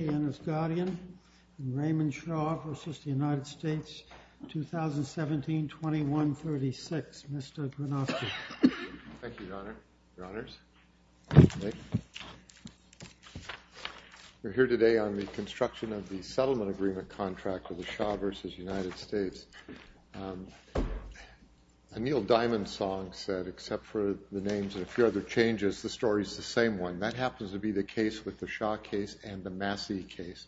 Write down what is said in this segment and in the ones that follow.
We're here today on the construction of the settlement agreement contract with the Shah v. United States. Anil Diamondsong said, except for the names and a few other changes, the story's the same one. That happens to be the case with the Shah case and the Massey case.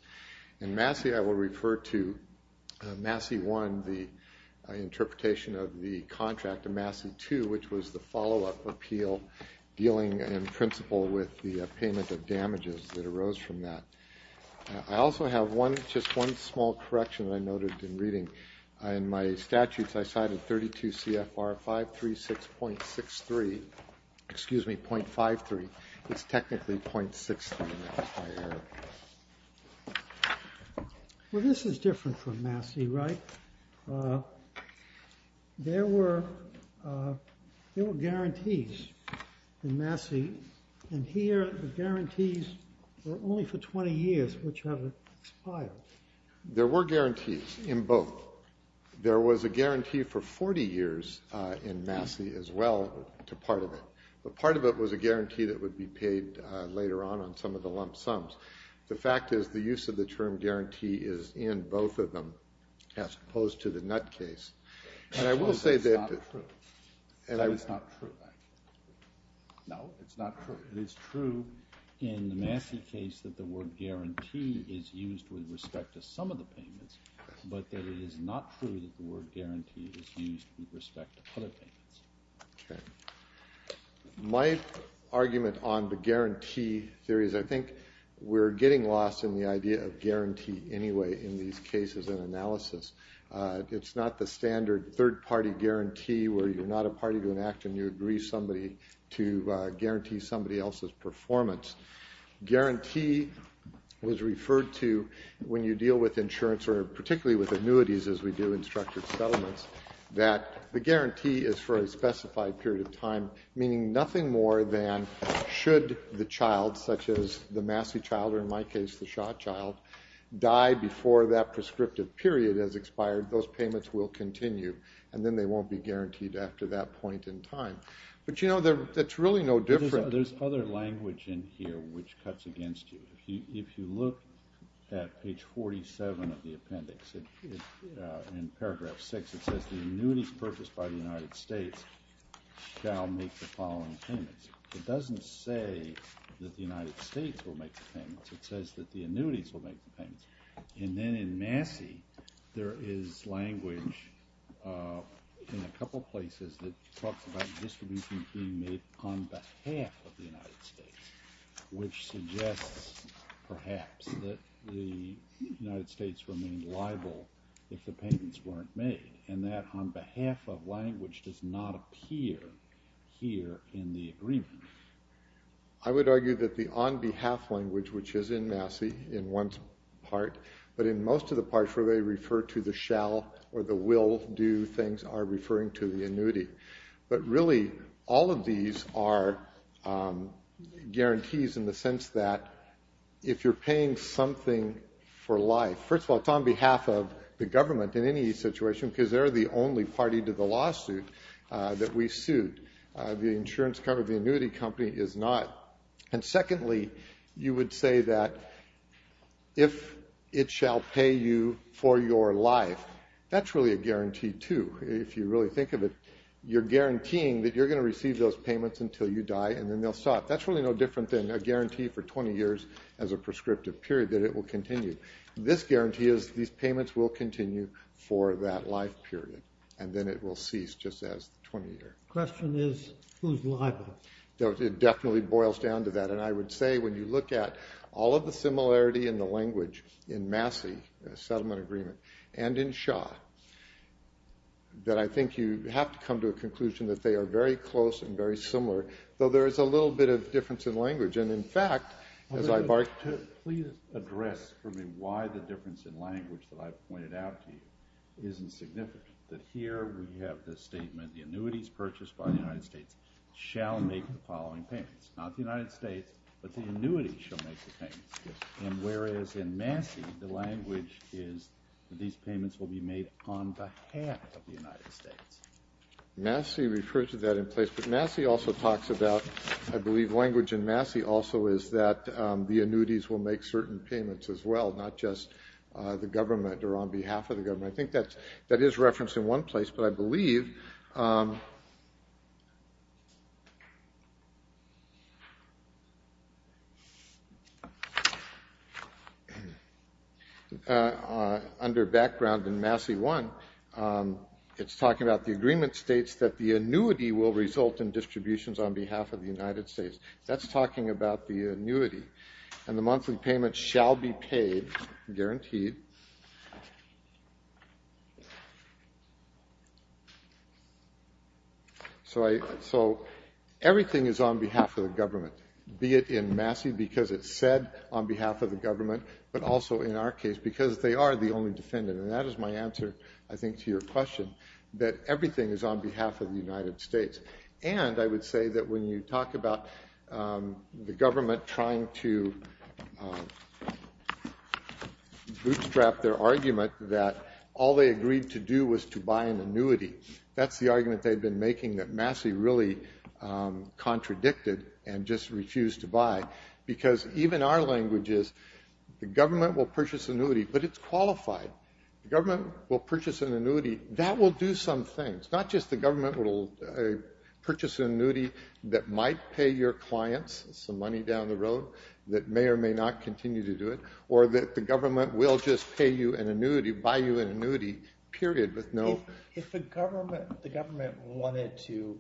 In Massey, I will refer to Massey 1, the interpretation of the contract to Massey 2, which was the follow-up appeal dealing in principle with the payment of damages that arose from that. I also have one, just one small correction I noted in reading. In my statutes, I cited 32 CFR 536.63, excuse me, 0.53. It's technically 0.63. Well, this is different from Massey, right? There were guarantees in Massey, and here the guarantees were only for 20 years, which have expired. There were guarantees in both. There was a guarantee for 40 years in Massey as well to part of it, but part of it was a guarantee that would be paid later on on some of the lump sums. The fact is, the use of the term guarantee is in both of them, as opposed to the Nutt case. And I will say that... It's not true. No, it's not true. It's true in the Massey case that the word guarantee is used with respect to some of the payments, but that it is not true that the word guarantee is used with respect to other payments. Okay. My argument on the guarantee theory is I think we're getting lost in the idea of guarantee anyway in these cases and analysis. It's not the standard third party guarantee where you're not a party to an act and you agree somebody to guarantee somebody else's performance. Guarantee was referred to when you deal with insurance or particularly with the guarantee is for a specified period of time, meaning nothing more than should the child, such as the Massey child, or in my case the Schott child, die before that prescriptive period has expired, those payments will continue, and then they won't be guaranteed after that point in time. But you know, that's really no different. There's other language in here which cuts against you. If you look at page 47 of the appendix, in paragraph 6, it says the annuities purchased by the United States shall make the following payments. It doesn't say that the United States will make the payments. It says that the annuities will make the payments. And then in Massey, there is language in a couple places that talks about distribution being made on behalf of the United States, which suggests perhaps that the United States remained liable if the payments weren't made, and that on behalf of language does not appear here in the agreement. I would argue that the on behalf language, which is in Massey in one part, but in most of the parts where they refer to the shall or the will do things are referring to the annuity. But really all of these are guarantees in the sense that if you're paying something for life, first of all, it's on behalf of the government in any situation, because they're the only party to the lawsuit that we sued. The insurance company, the annuity company is not. And secondly, you would say that if it shall pay you for your life, that's really a guarantee too, if you really think of it. You're guaranteeing that you're going to receive those 20 years as a prescriptive period, that it will continue. This guarantee is these payments will continue for that life period, and then it will cease just as 20 years. Question is, who's liable? It definitely boils down to that. And I would say when you look at all of the similarity in the language in Massey settlement agreement, and in Shaw, that I think you have to come to a conclusion that they are very close and very similar, though there is a little bit of difference in language. And in fact, as I barked... Please address for me why the difference in language that I've pointed out to you isn't significant. That here we have this statement, the annuities purchased by the United States shall make the following payments. Not the United States, but the annuity shall make the payments. And whereas in Massey, the language is that these payments will be made on behalf of the United States. Massey refers to that in place, but Massey also talks about, I believe language in Massey also is that the annuities will make certain payments as well, not just the government or on behalf of the government. I think that is referenced in one place, but I believe... Under background in Massey 1, it's talking about the agreement states that the annuity will result in distributions on behalf of the United States. That's talking about the annuity. And the monthly payments shall be paid, guaranteed. So everything is on behalf of the government, be it in Massey, because it's said on behalf of the government, but also in our case, because they are the only defendant. And that is my answer, I think, to your question, that everything is on behalf of the United States. And I would say that when you talk about the government trying to scrap their argument that all they agreed to do was to buy an annuity, that's the argument they've been making that Massey really contradicted and just refused to buy. Because even our language is the government will purchase annuity, but it's qualified. The government will purchase an annuity. That will do some things. Not just the government will purchase an annuity that might pay your clients some money down the road, that may or may not continue to do it. Or that the government will just pay you an annuity, buy you an annuity, period, with no... If the government wanted to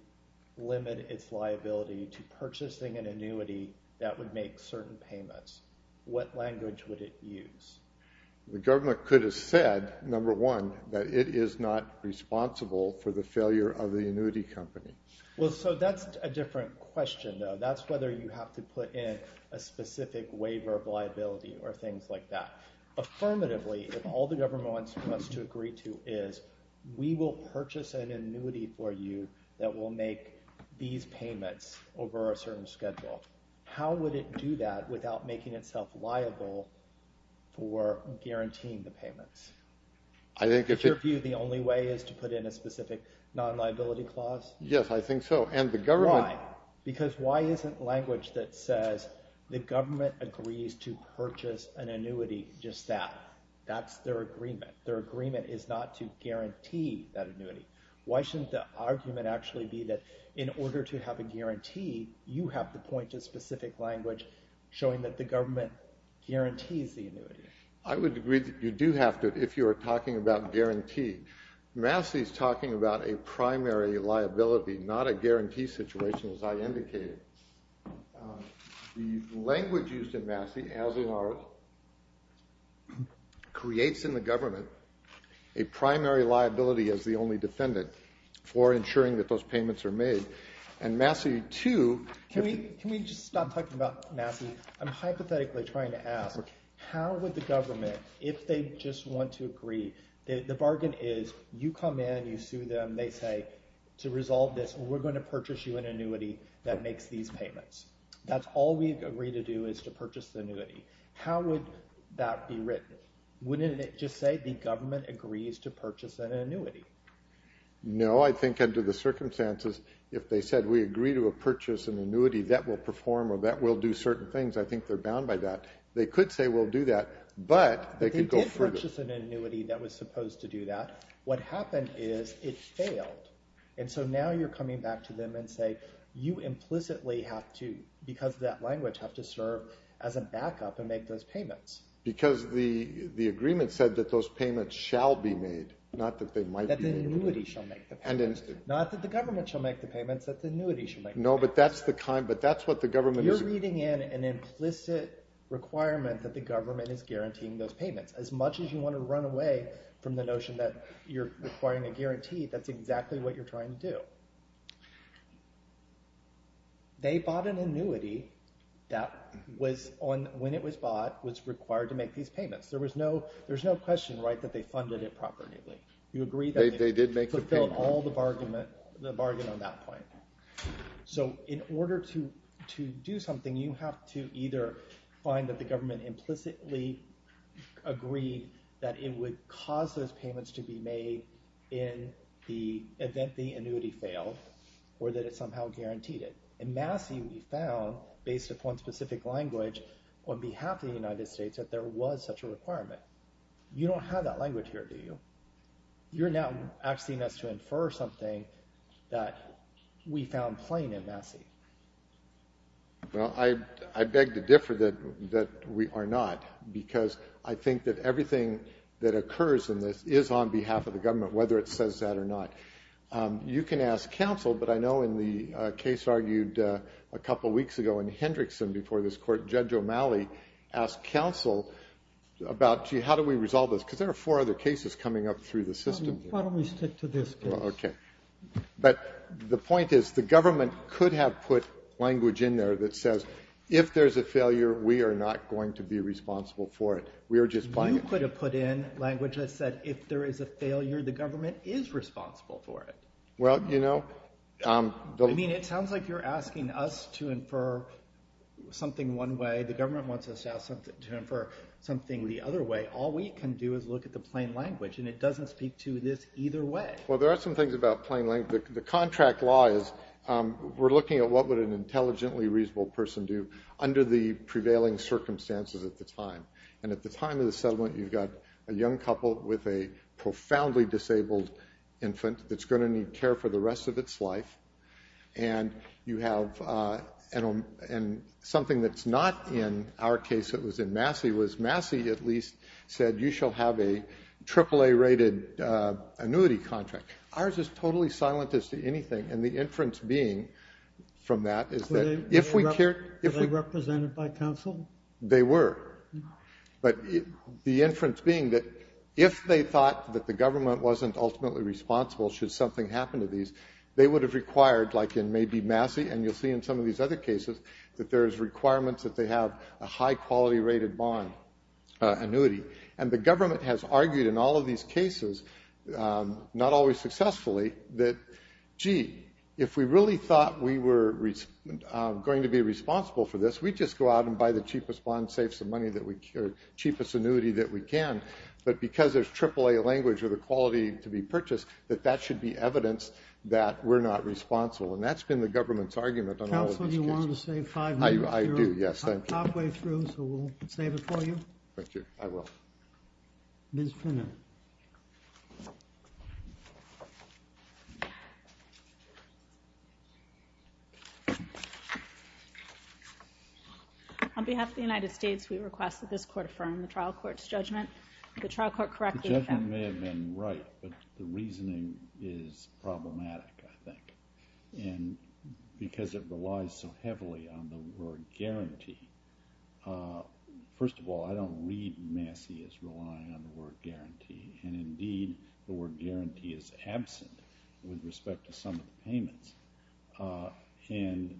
limit its liability to purchasing an annuity that would make certain payments, what language would it use? The government could have said, number one, that it is not responsible for the failure of the annuity company. Well, so that's a different question, though. That's whether you have to put in a specific waiver of liability or things like that. Affirmatively, if all the government wants us to agree to is, we will purchase an annuity for you that will make these payments over a certain schedule, how would it do that without making itself liable for guaranteeing the payments? Is your view the only way is to put in a specific non-liability clause? Yes, I think so. And the government... Why? Because why isn't language that says the government agrees to purchase an annuity just that? That's their agreement. Their agreement is not to guarantee that annuity. Why shouldn't the argument actually be that in order to have a guarantee, you have to point to specific language showing that the government guarantees the annuity? I would agree that you do have to if you are talking about guarantee. Massey is talking about a primary liability, not a guarantee situation, as I indicated. The language used in Massey, as in ours, creates in the government a primary liability as the only defendant for ensuring that those payments are made. And Massey, too... Can we just stop talking about Massey? I'm hypothetically trying to ask, how would the government, if they just want to agree, the bargain is you come in, you sue them, they say, to resolve this, we're going to purchase you an annuity that makes these payments. That's all we agree to do is to purchase the annuity. How would that be written? Wouldn't it just say the government agrees to purchase an annuity? No, I think under the circumstances, if they said we agree to purchase an annuity that will perform or that will do certain things, I think they're bound by that. They could say we'll do that, but they could go further. They did purchase an annuity that was supposed to do that. What happened is it failed. And so now you're coming back to them and saying you implicitly have to, because of that language, have to serve as a backup and make those payments. Because the agreement said that those payments shall be made, not that they might be made. That the annuity shall make the payments. Not that the government shall make the payments, that the annuity shall make the payments. No, but that's what the government is... You're reading in an implicit requirement that the government is guaranteeing those payments. As much as you want to run away from the notion that you're requiring a guarantee, that's exactly what you're trying to do. They bought an annuity that, when it was bought, was required to make these payments. There's no question that they funded it properly. You agree that they fulfilled all the bargain on that point. So in order to do something, you have to either find that the government implicitly agreed that it would cause those payments to be made in the event the annuity failed, or that it somehow guaranteed it. In Massey, we found, based upon specific language on behalf of the United States, that there was such a requirement. You don't have that language here, do you? You're now asking us to infer something that we found plain in Massey. Well, I beg to differ that we are not, because I think that everything that occurs in this is on behalf of the government, whether it says that or not. You can ask counsel, but I know in the case argued a couple weeks ago in Hendrickson before this Court, Judge O'Malley asked counsel about, gee, how do we resolve this? Because there are four other cases coming up through the system here. Why don't we stick to this case? Okay. But the point is the government could have put language in there that says, if there's a failure, we are not going to be responsible for it. We are just playing it. You could have put in language that said, if there is a failure, the government is responsible for it. Well, you know. I mean, it sounds like you're asking us to infer something one way. The government wants us to infer something the other way. All we can do is look at the plain language, and it doesn't speak to this either way. Well, there are some things about plain language. The contract law is we're looking at what would an intelligently reasonable person do under the prevailing circumstances at the time. And at the time of the settlement, you've got a young couple with a profoundly disabled infant that's going to need care for the rest of its life. And you have something that's not in our case that was in Massey, was Massey at least said, you shall have a AAA-rated annuity contract. Ours is totally silent as to anything. And the inference being from that is that if we care. Were they represented by counsel? They were. But the inference being that if they thought that the government wasn't ultimately responsible should something happen to these, they would have required, like in maybe Massey, and you'll see in some of these other cases, that there is requirements that they have a high-quality-rated bond annuity. And the government has argued in all of these cases, not always successfully, that, gee, if we really thought we were going to be responsible for this, we'd just go out and buy the cheapest bond, save some money, the cheapest annuity that we can. But because there's AAA language or the quality to be purchased, that that should be evidence that we're not responsible. And that's been the government's argument on all of these cases. Counsel, do you want to save five minutes? I do, yes. Halfway through, so we'll save it for you. Thank you. I will. Ms. Finner. On behalf of the United States, we request that this court affirm the trial court's judgment. If the trial court correctly affirmed it. The judgment may have been right, but the reasoning is problematic, I think. And because it relies so heavily on the word guarantee, first of all, I don't read Massey as relying on the word guarantee. And, indeed, the word guarantee is absent with respect to some of the payments. And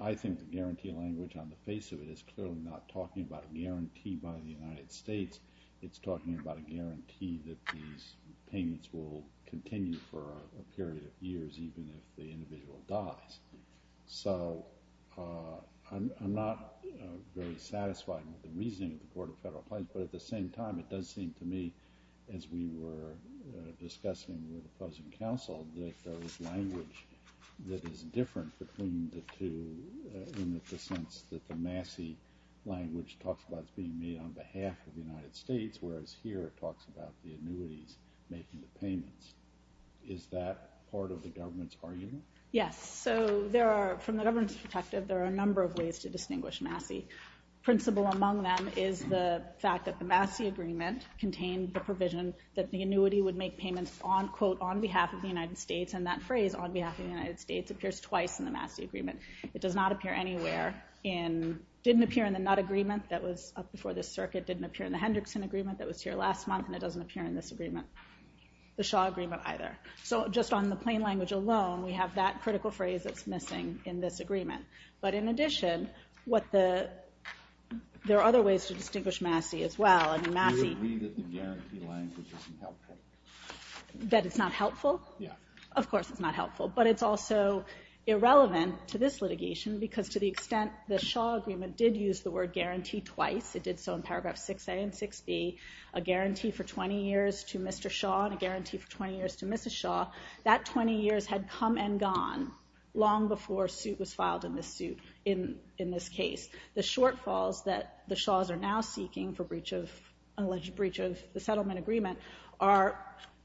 I think the guarantee language on the face of it is clearly not talking about a guarantee by the United States. It's talking about a guarantee that these payments will continue for a period of years, even if the individual dies. So I'm not very satisfied with the reasoning of the Court of Federal Appliance, but at the same time, it does seem to me, as we were discussing with opposing counsel, that there is language that is different between the two in the sense that the Massey language talks about being made on behalf of the United States, whereas here it talks about the annuities making the payments. Is that part of the government's argument? Yes. So from the governance perspective, there are a number of ways to distinguish Massey. Principal among them is the fact that the Massey agreement contained the provision that the annuity would make payments, quote, on behalf of the United States, and that phrase, on behalf of the United States, appears twice in the Massey agreement. It does not appear anywhere in, didn't appear in the Nutt agreement that was up before this circuit, didn't appear in the Hendrickson agreement that was here last month, and it doesn't appear in this agreement. The Shaw agreement either. So just on the plain language alone, we have that critical phrase that's missing in this agreement. But in addition, there are other ways to distinguish Massey as well. Do you agree that the guarantee language isn't helpful? That it's not helpful? Yeah. Of course it's not helpful, but it's also irrelevant to this litigation because to the extent the Shaw agreement did use the word guarantee twice, it did so in paragraph 6A and 6B, a guarantee for 20 years to Mr. Shaw and a guarantee for 20 years to Mrs. Shaw. That 20 years had come and gone long before a suit was filed in this suit, in this case. The shortfalls that the Shaws are now seeking for breach of, an alleged breach of the settlement agreement are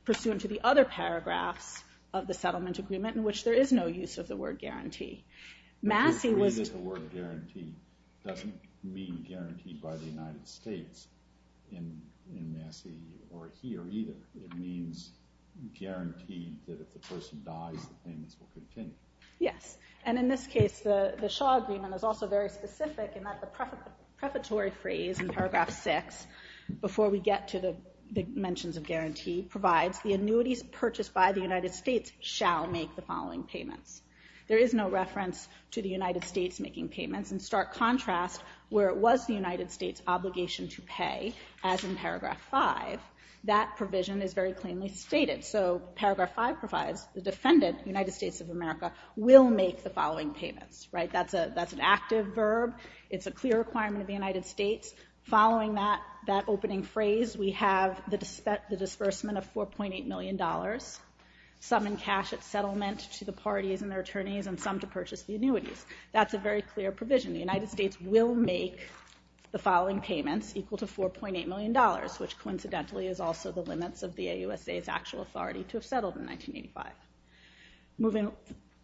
pursuant to the other paragraphs of the settlement agreement in which there is no use of the word guarantee. Do you agree that the word guarantee doesn't mean guaranteed by the United States in Massey or here either? It means guaranteed that if the person dies, the payments will continue. Yes. And in this case, the Shaw agreement is also very specific in that the prefatory phrase in paragraph 6, before we get to the mentions of guarantee, provides the annuities purchased by the United States shall make the following payments. There is no reference to the United States making payments. In stark contrast, where it was the United States' obligation to pay, as in paragraph 5, that provision is very cleanly stated. So paragraph 5 provides the defendant, United States of America, will make the following payments. That's an active verb. It's a clear requirement of the United States. Following that opening phrase, we have the disbursement of $4.8 million, some in cash at settlement to the parties and their attorneys, and some to purchase the annuities. That's a very clear provision. The United States will make the following payments equal to $4.8 million, which coincidentally is also the limits of the AUSA's actual authority to have settled in 1985.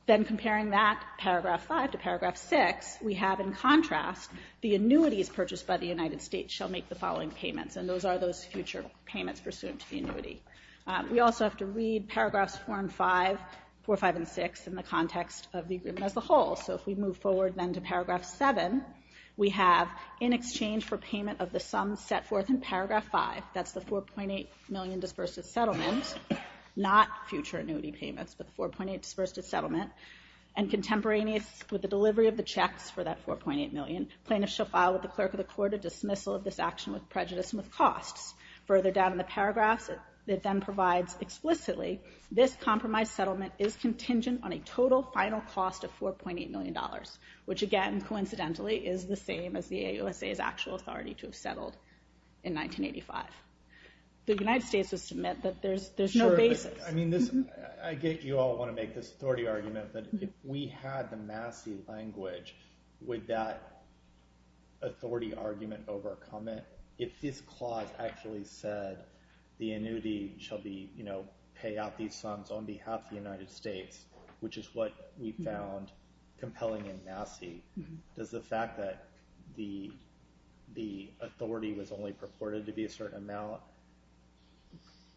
Then comparing that paragraph 5 to paragraph 6, we have in contrast, the annuities purchased by the United States shall make the following payments, and those are those future payments pursuant to the annuity. We also have to read paragraphs 4 and 5, 4, 5, and 6 in the context of the agreement as a whole. So if we move forward then to paragraph 7, we have in exchange for payment of the sum set forth in paragraph 5, that's the $4.8 million disbursed at settlement, not future annuity payments, but the $4.8 dispersed at settlement, and contemporaneous with the delivery of the checks for that $4.8 million, plaintiffs shall file with the clerk of the court a dismissal of this action with prejudice and with costs. Further down in the paragraphs, it then provides explicitly, this compromise settlement is contingent on a total final cost of $4.8 million, which again, coincidentally, is the same as the AUSA's actual authority to have settled in 1985. The United States would submit that there's no basis. I get you all want to make this authority argument, but if we had the Massey language, would that authority argument overcome it? If this clause actually said the annuity shall pay out these sums on behalf of the United States, which is what we found compelling in Massey, does the fact that the authority was only purported to be a certain amount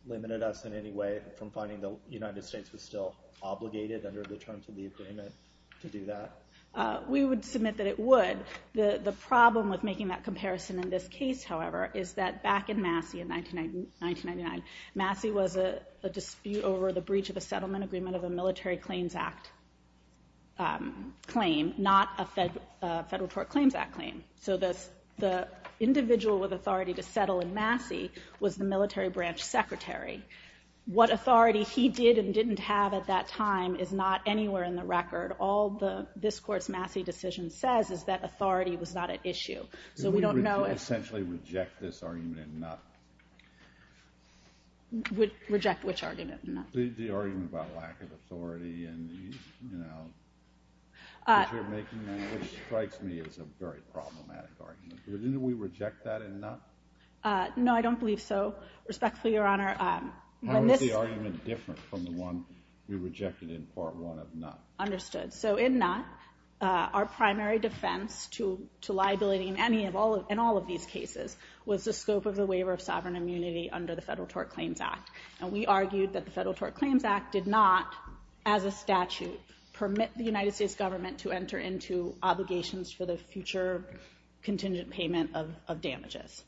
limit us in any way from finding the United States was still obligated under the terms of the agreement to do that? We would submit that it would. The problem with making that comparison in this case, however, is that back in Massey in 1999, Massey was a dispute over the breach of a settlement agreement of a Military Claims Act claim, not a Federal Tort Claims Act claim. So the individual with authority to settle in Massey was the military branch secretary. What authority he did and didn't have at that time is not anywhere in the record. All this court's Massey decision says is that authority was not at issue. So we don't know if- Did we essentially reject this argument in Nutt? Reject which argument in Nutt? The argument about lack of authority and, you know, which strikes me as a very problematic argument. Didn't we reject that in Nutt? No, I don't believe so. Respectfully, Your Honor, when this- How is the argument different from the one we rejected in Part 1 of Nutt? Understood. So in Nutt, our primary defense to liability in all of these cases was the scope of the waiver of sovereign immunity under the Federal Tort Claims Act. And we argued that the Federal Tort Claims Act did not, as a statute, permit the United States government to enter into obligations for the future contingent payment of damages.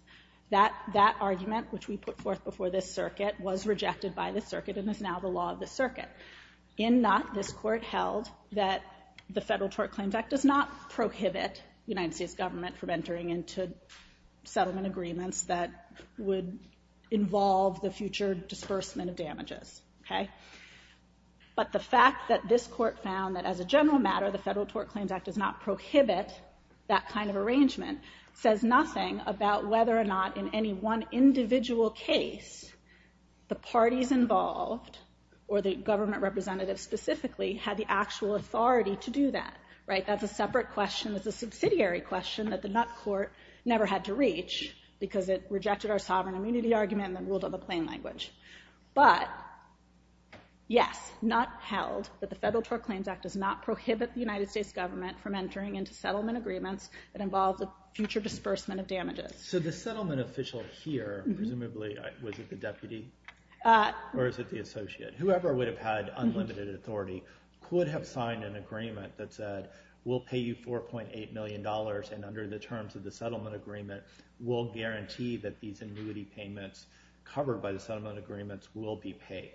That argument, which we put forth before this circuit, was rejected by this circuit and is now the law of this circuit. In Nutt, this court held that the Federal Tort Claims Act does not prohibit the United States government from entering into settlement agreements that would involve the future disbursement of damages. But the fact that this court found that, as a general matter, the Federal Tort Claims Act does not prohibit that kind of arrangement says nothing about whether or not, in any one individual case, the parties involved, or the government representative specifically, had the actual authority to do that. That's a separate question. It's a subsidiary question that the Nutt court never had to reach because it rejected our sovereign immunity argument and then ruled on the plain language. But, yes, Nutt held that the Federal Tort Claims Act does not prohibit the United States government from entering into settlement agreements that involve the future disbursement of damages. So the settlement official here, presumably, was it the deputy? Or is it the associate? Whoever would have had unlimited authority could have signed an agreement that said, we'll pay you $4.8 million and under the terms of the settlement agreement, we'll guarantee that these annuity payments covered by the settlement agreements will be paid.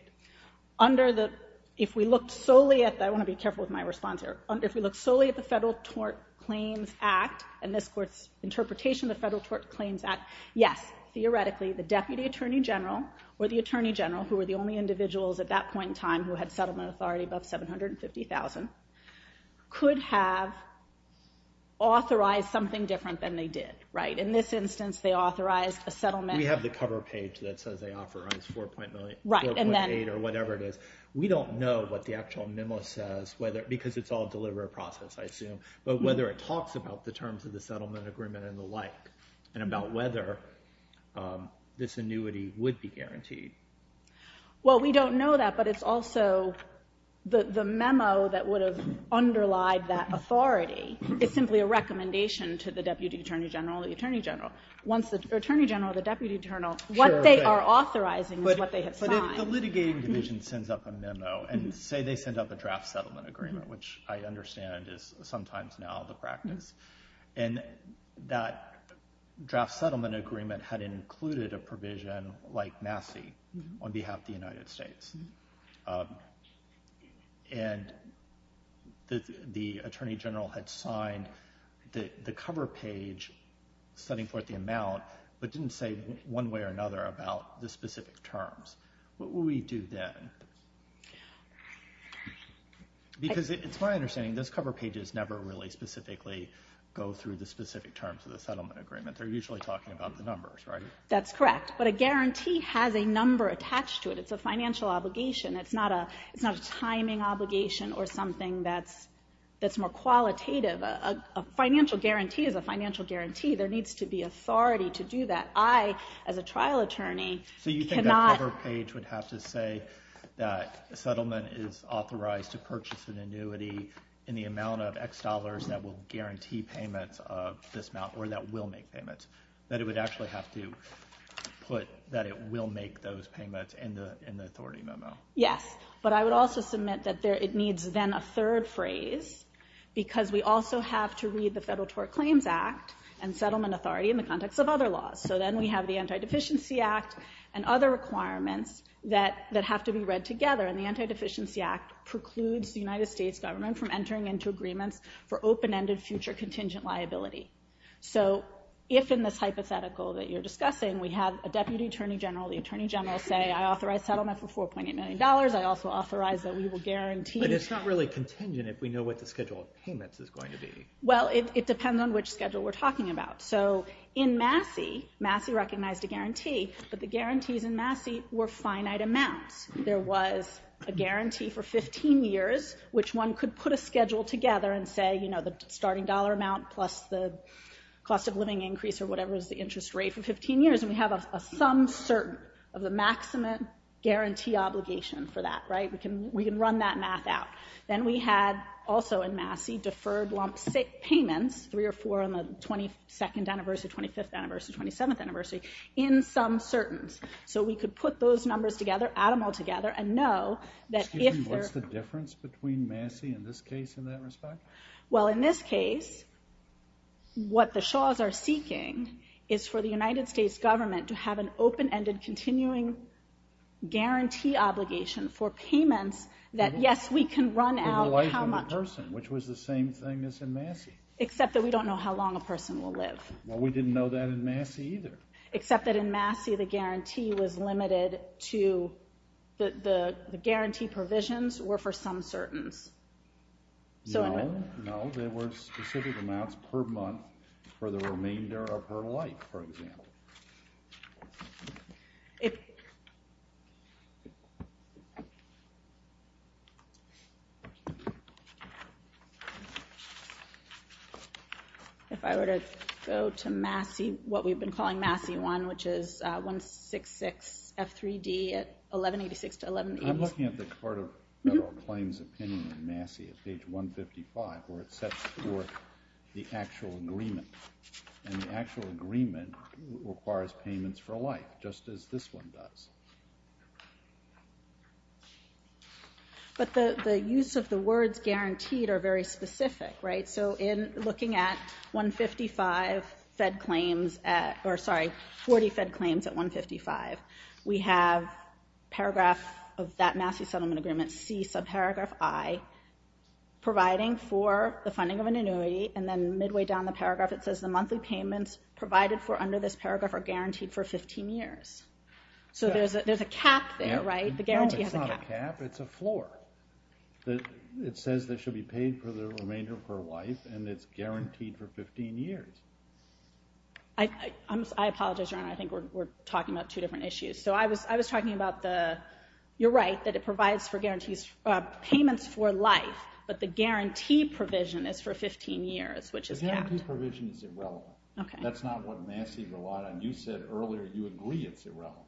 Under the, if we look solely at, I want to be careful with my response here, if we look solely at the Federal Tort Claims Act and this court's interpretation of the Federal Tort Claims Act, yes, theoretically, the deputy attorney general or the attorney general, who were the only individuals at that point in time who had settlement authority above $750,000, could have authorized something different than they did. In this instance, they authorized a settlement. We have the cover page that says they authorized $4.8 or whatever it is. We don't know what the actual memo says, because it's all a delivery process, I assume, but whether it talks about the terms of the settlement agreement and the like and about whether this annuity would be guaranteed. Well, we don't know that, but it's also the memo that would have underlied that authority is simply a recommendation to the deputy attorney general or the attorney general. Once the attorney general or the deputy attorney general, what they are authorizing is what they have signed. But if the litigating division sends up a memo and say they send up a draft settlement agreement, which I understand is sometimes now the practice, and that draft settlement agreement had included a provision like Massey on behalf of the United States, and the attorney general had signed the cover page setting forth the amount but didn't say one way or another about the specific terms, what would we do then? Because it's my understanding those cover pages never really specifically go through the specific terms of the settlement agreement. They're usually talking about the numbers, right? That's correct, but a guarantee has a number attached to it. It's a financial obligation. It's not a timing obligation or something that's more qualitative. A financial guarantee is a financial guarantee. There needs to be authority to do that. I, as a trial attorney, cannot... say that a settlement is authorized to purchase an annuity in the amount of X dollars that will guarantee payments of this amount or that will make payments. That it would actually have to put that it will make those payments in the authority memo. Yes, but I would also submit that it needs then a third phrase because we also have to read the Federal Tort Claims Act and settlement authority in the context of other laws. So then we have the Anti-Deficiency Act and other requirements that have to be read together, and the Anti-Deficiency Act precludes the United States government from entering into agreements for open-ended future contingent liability. So if in this hypothetical that you're discussing we have a deputy attorney general, the attorney general say, I authorize settlement for $4.8 million. I also authorize that we will guarantee... But it's not really contingent if we know what the schedule of payments is going to be. Well, it depends on which schedule we're talking about. So in Massey, Massey recognized a guarantee, but the guarantees in Massey were finite amounts. There was a guarantee for 15 years, which one could put a schedule together and say, you know, the starting dollar amount plus the cost of living increase or whatever is the interest rate for 15 years, and we have a sum certain of the maximum guarantee obligation for that, right? We can run that math out. Then we had also in Massey deferred lump payments, three or four on the 22nd anniversary, 25th anniversary, 27th anniversary, in sum certains. So we could put those numbers together, add them all together, and know that if there... Excuse me, what's the difference between Massey in this case and that respect? Well, in this case, what the Shaws are seeking is for the United States government to have an open-ended continuing guarantee obligation for payments that, yes, we can run out how much... For the life of the person, which was the same thing as in Massey. Except that we don't know how long a person will live. Well, we didn't know that in Massey either. Except that in Massey, the guarantee was limited to... The guarantee provisions were for sum certains. No, no, there were specific amounts per month If... If I were to go to Massey, what we've been calling Massey 1, which is 166 F3D at 1186 to 1186... I'm looking at the Court of Federal Claims opinion in Massey at page 155, where it sets forth the actual agreement. And the actual agreement requires payments for life, just as this one does. But the use of the words guaranteed are very specific, right? So in looking at 155 Fed claims at... Or, sorry, 40 Fed claims at 155, we have paragraph of that Massey settlement agreement, C subparagraph I, providing for the funding of an annuity, and then midway down the paragraph, it says the monthly payments provided for under this paragraph are guaranteed for 15 years. So there's a cap there, right? The guarantee has a cap. No, it's not a cap. It's a floor. It says this should be paid for the remainder of her life, and it's guaranteed for 15 years. I apologize, Your Honor. I think we're talking about two different issues. So I was talking about the... You're right, that it provides for guarantees... Payments for life, but the guarantee provision is for 15 years, which is capped. The guarantee provision is irrelevant. That's not what Massey relied on. You said earlier you agree it's irrelevant.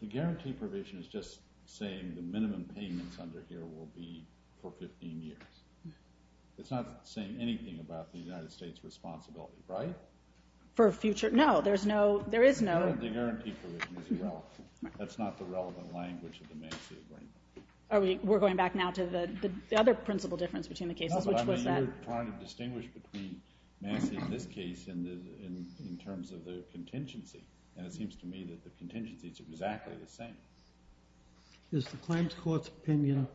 The guarantee provision is just saying the minimum payments under here will be for 15 years. It's not saying anything about the United States' responsibility, right? For future... No, there is no... The guarantee provision is irrelevant. That's not the relevant language of the Massey agreement. We're going back now to the other principal difference between the cases, which was that... You were trying to distinguish between Massey in this case in terms of the contingency, and it seems to me that the contingency is exactly the same. Is the claims court's opinion...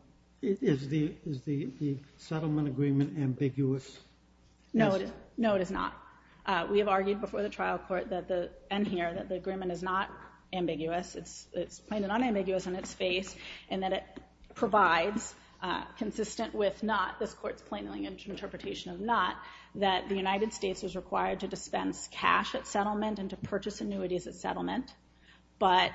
Is the settlement agreement ambiguous? No, it is not. We have argued before the trial court, and here, that the agreement is not ambiguous. It's plain and unambiguous in its face, and that it provides, consistent with this court's plainly interpretation of not, that the United States was required to dispense cash at settlement and to purchase annuities at settlement, but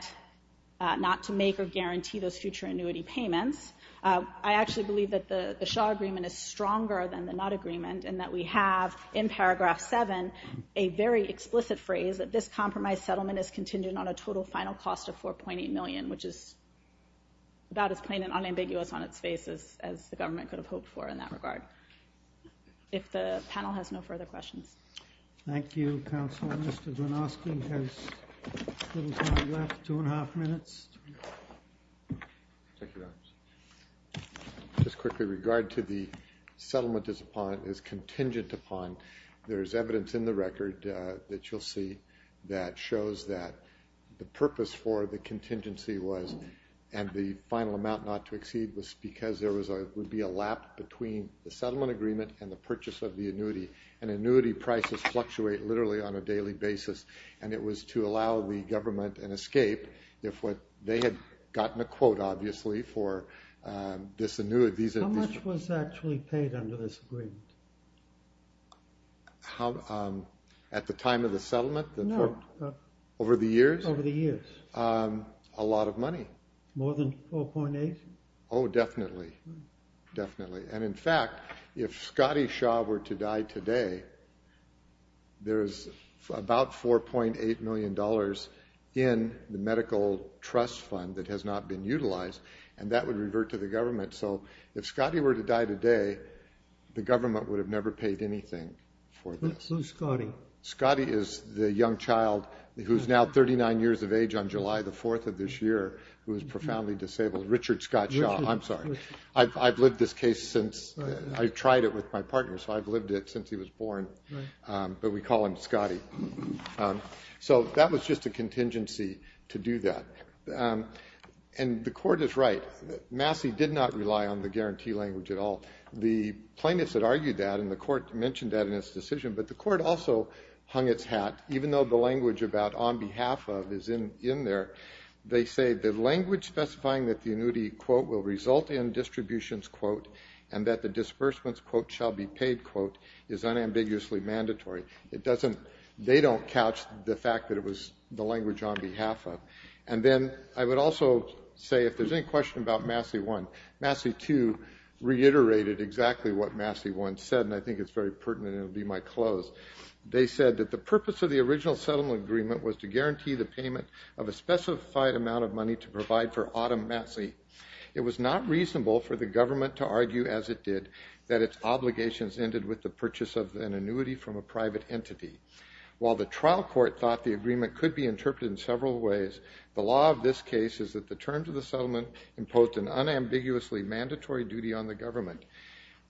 not to make or guarantee those future annuity payments. I actually believe that the Shaw agreement is stronger than the Nutt agreement, and that we have, in paragraph 7, a very explicit phrase that this compromise settlement is contingent on a total final cost of $4.8 million, which is about as plain and unambiguous on its face as the government could have hoped for in that regard. If the panel has no further questions. Thank you, counsel. Mr. Gronowski has a little time left, two and a half minutes. Just quickly, regard to the settlement is contingent upon... There is evidence in the record that you'll see that shows that the purpose for the contingency was, and the final amount not to exceed, was because there would be a lap between the settlement agreement and the purchase of the annuity. And annuity prices fluctuate literally on a daily basis. And it was to allow the government an escape if they had gotten a quote, obviously, for this annuity. How much was actually paid under this agreement? At the time of the settlement? No. Over the years? Over the years. A lot of money. More than $4.8 million? Oh, definitely, definitely. And in fact, if Scotty Shaw were to die today, there's about $4.8 million in the medical trust fund that has not been utilized, and that would revert to the government. So if Scotty were to die today, the government would have never paid anything for this. Who's Scotty? Scotty is the young child who's now 39 years of age on July the 4th of this year who is profoundly disabled. Richard Scott Shaw. I'm sorry. I've lived this case since. I tried it with my partner, so I've lived it since he was born. But we call him Scotty. So that was just a contingency to do that. And the court is right. Massey did not rely on the guarantee language at all. The plaintiffs had argued that, and the court mentioned that in its decision, but the court also hung its hat, even though the language about on behalf of is in there. They say the language specifying that the annuity will result in distributions and that the disbursements quote shall be paid is unambiguously mandatory. They don't couch the fact that it was the language on behalf of. And then I would also say, if there's any question about Massey 1, Massey 2 reiterated exactly what Massey 1 said, and I think it's very pertinent and it will be my close. They said that the purpose of the original settlement agreement was to guarantee the payment of a specified amount of money to provide for Autumn Massey. It was not reasonable for the government to argue as it did that its obligations ended with the purchase of an annuity from a private entity. While the trial court thought the agreement the law of this case is that the terms of the settlement imposed an unambiguously mandatory duty on the government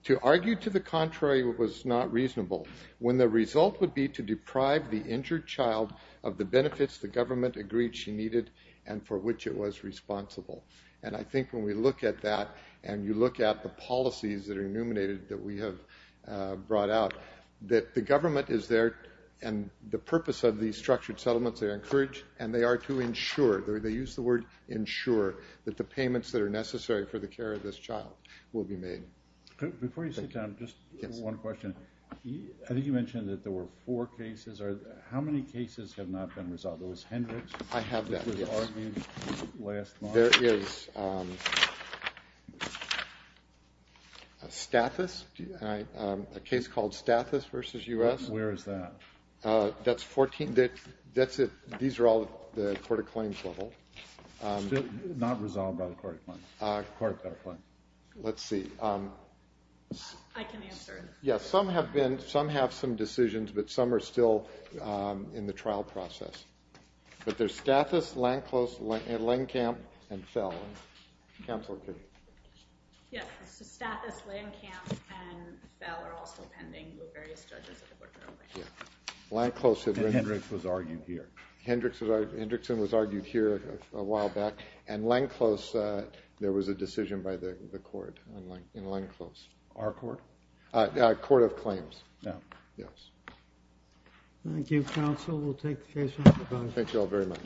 to argue to the contrary was not reasonable when the result would be to deprive the injured child of the benefits the government agreed she needed and for which it was responsible. And I think when we look at that and you look at the policies that are illuminated that we have brought out, that the government is there and the purpose of these structured settlements are encouraged and they are to ensure, they use the word ensure, that the payments that are necessary for the care of this child will be made. Before you sit down, just one question. I think you mentioned that there were four cases. How many cases have not been resolved? There was Hendricks, which was argued last month. I have that, yes. There is Stathis, a case called Stathis v. U.S. Where is that? That's 14. These are all the court of claims level. Not resolved by the court of claims. Let's see. I can answer. Some have some decisions, but some are still in the trial process. But there's Stathis, Landclose, Landcamp, and Fell. Counsel, please. Yes, Stathis, Landcamp, and Fell are all still pending with various judges. And Hendricks was argued here. Hendrickson was argued here a while back. And Landclose, there was a decision by the court in Landclose. Our court? Court of claims. Yes. Thank you, counsel. We'll take the case off the bench. Thank you all very much.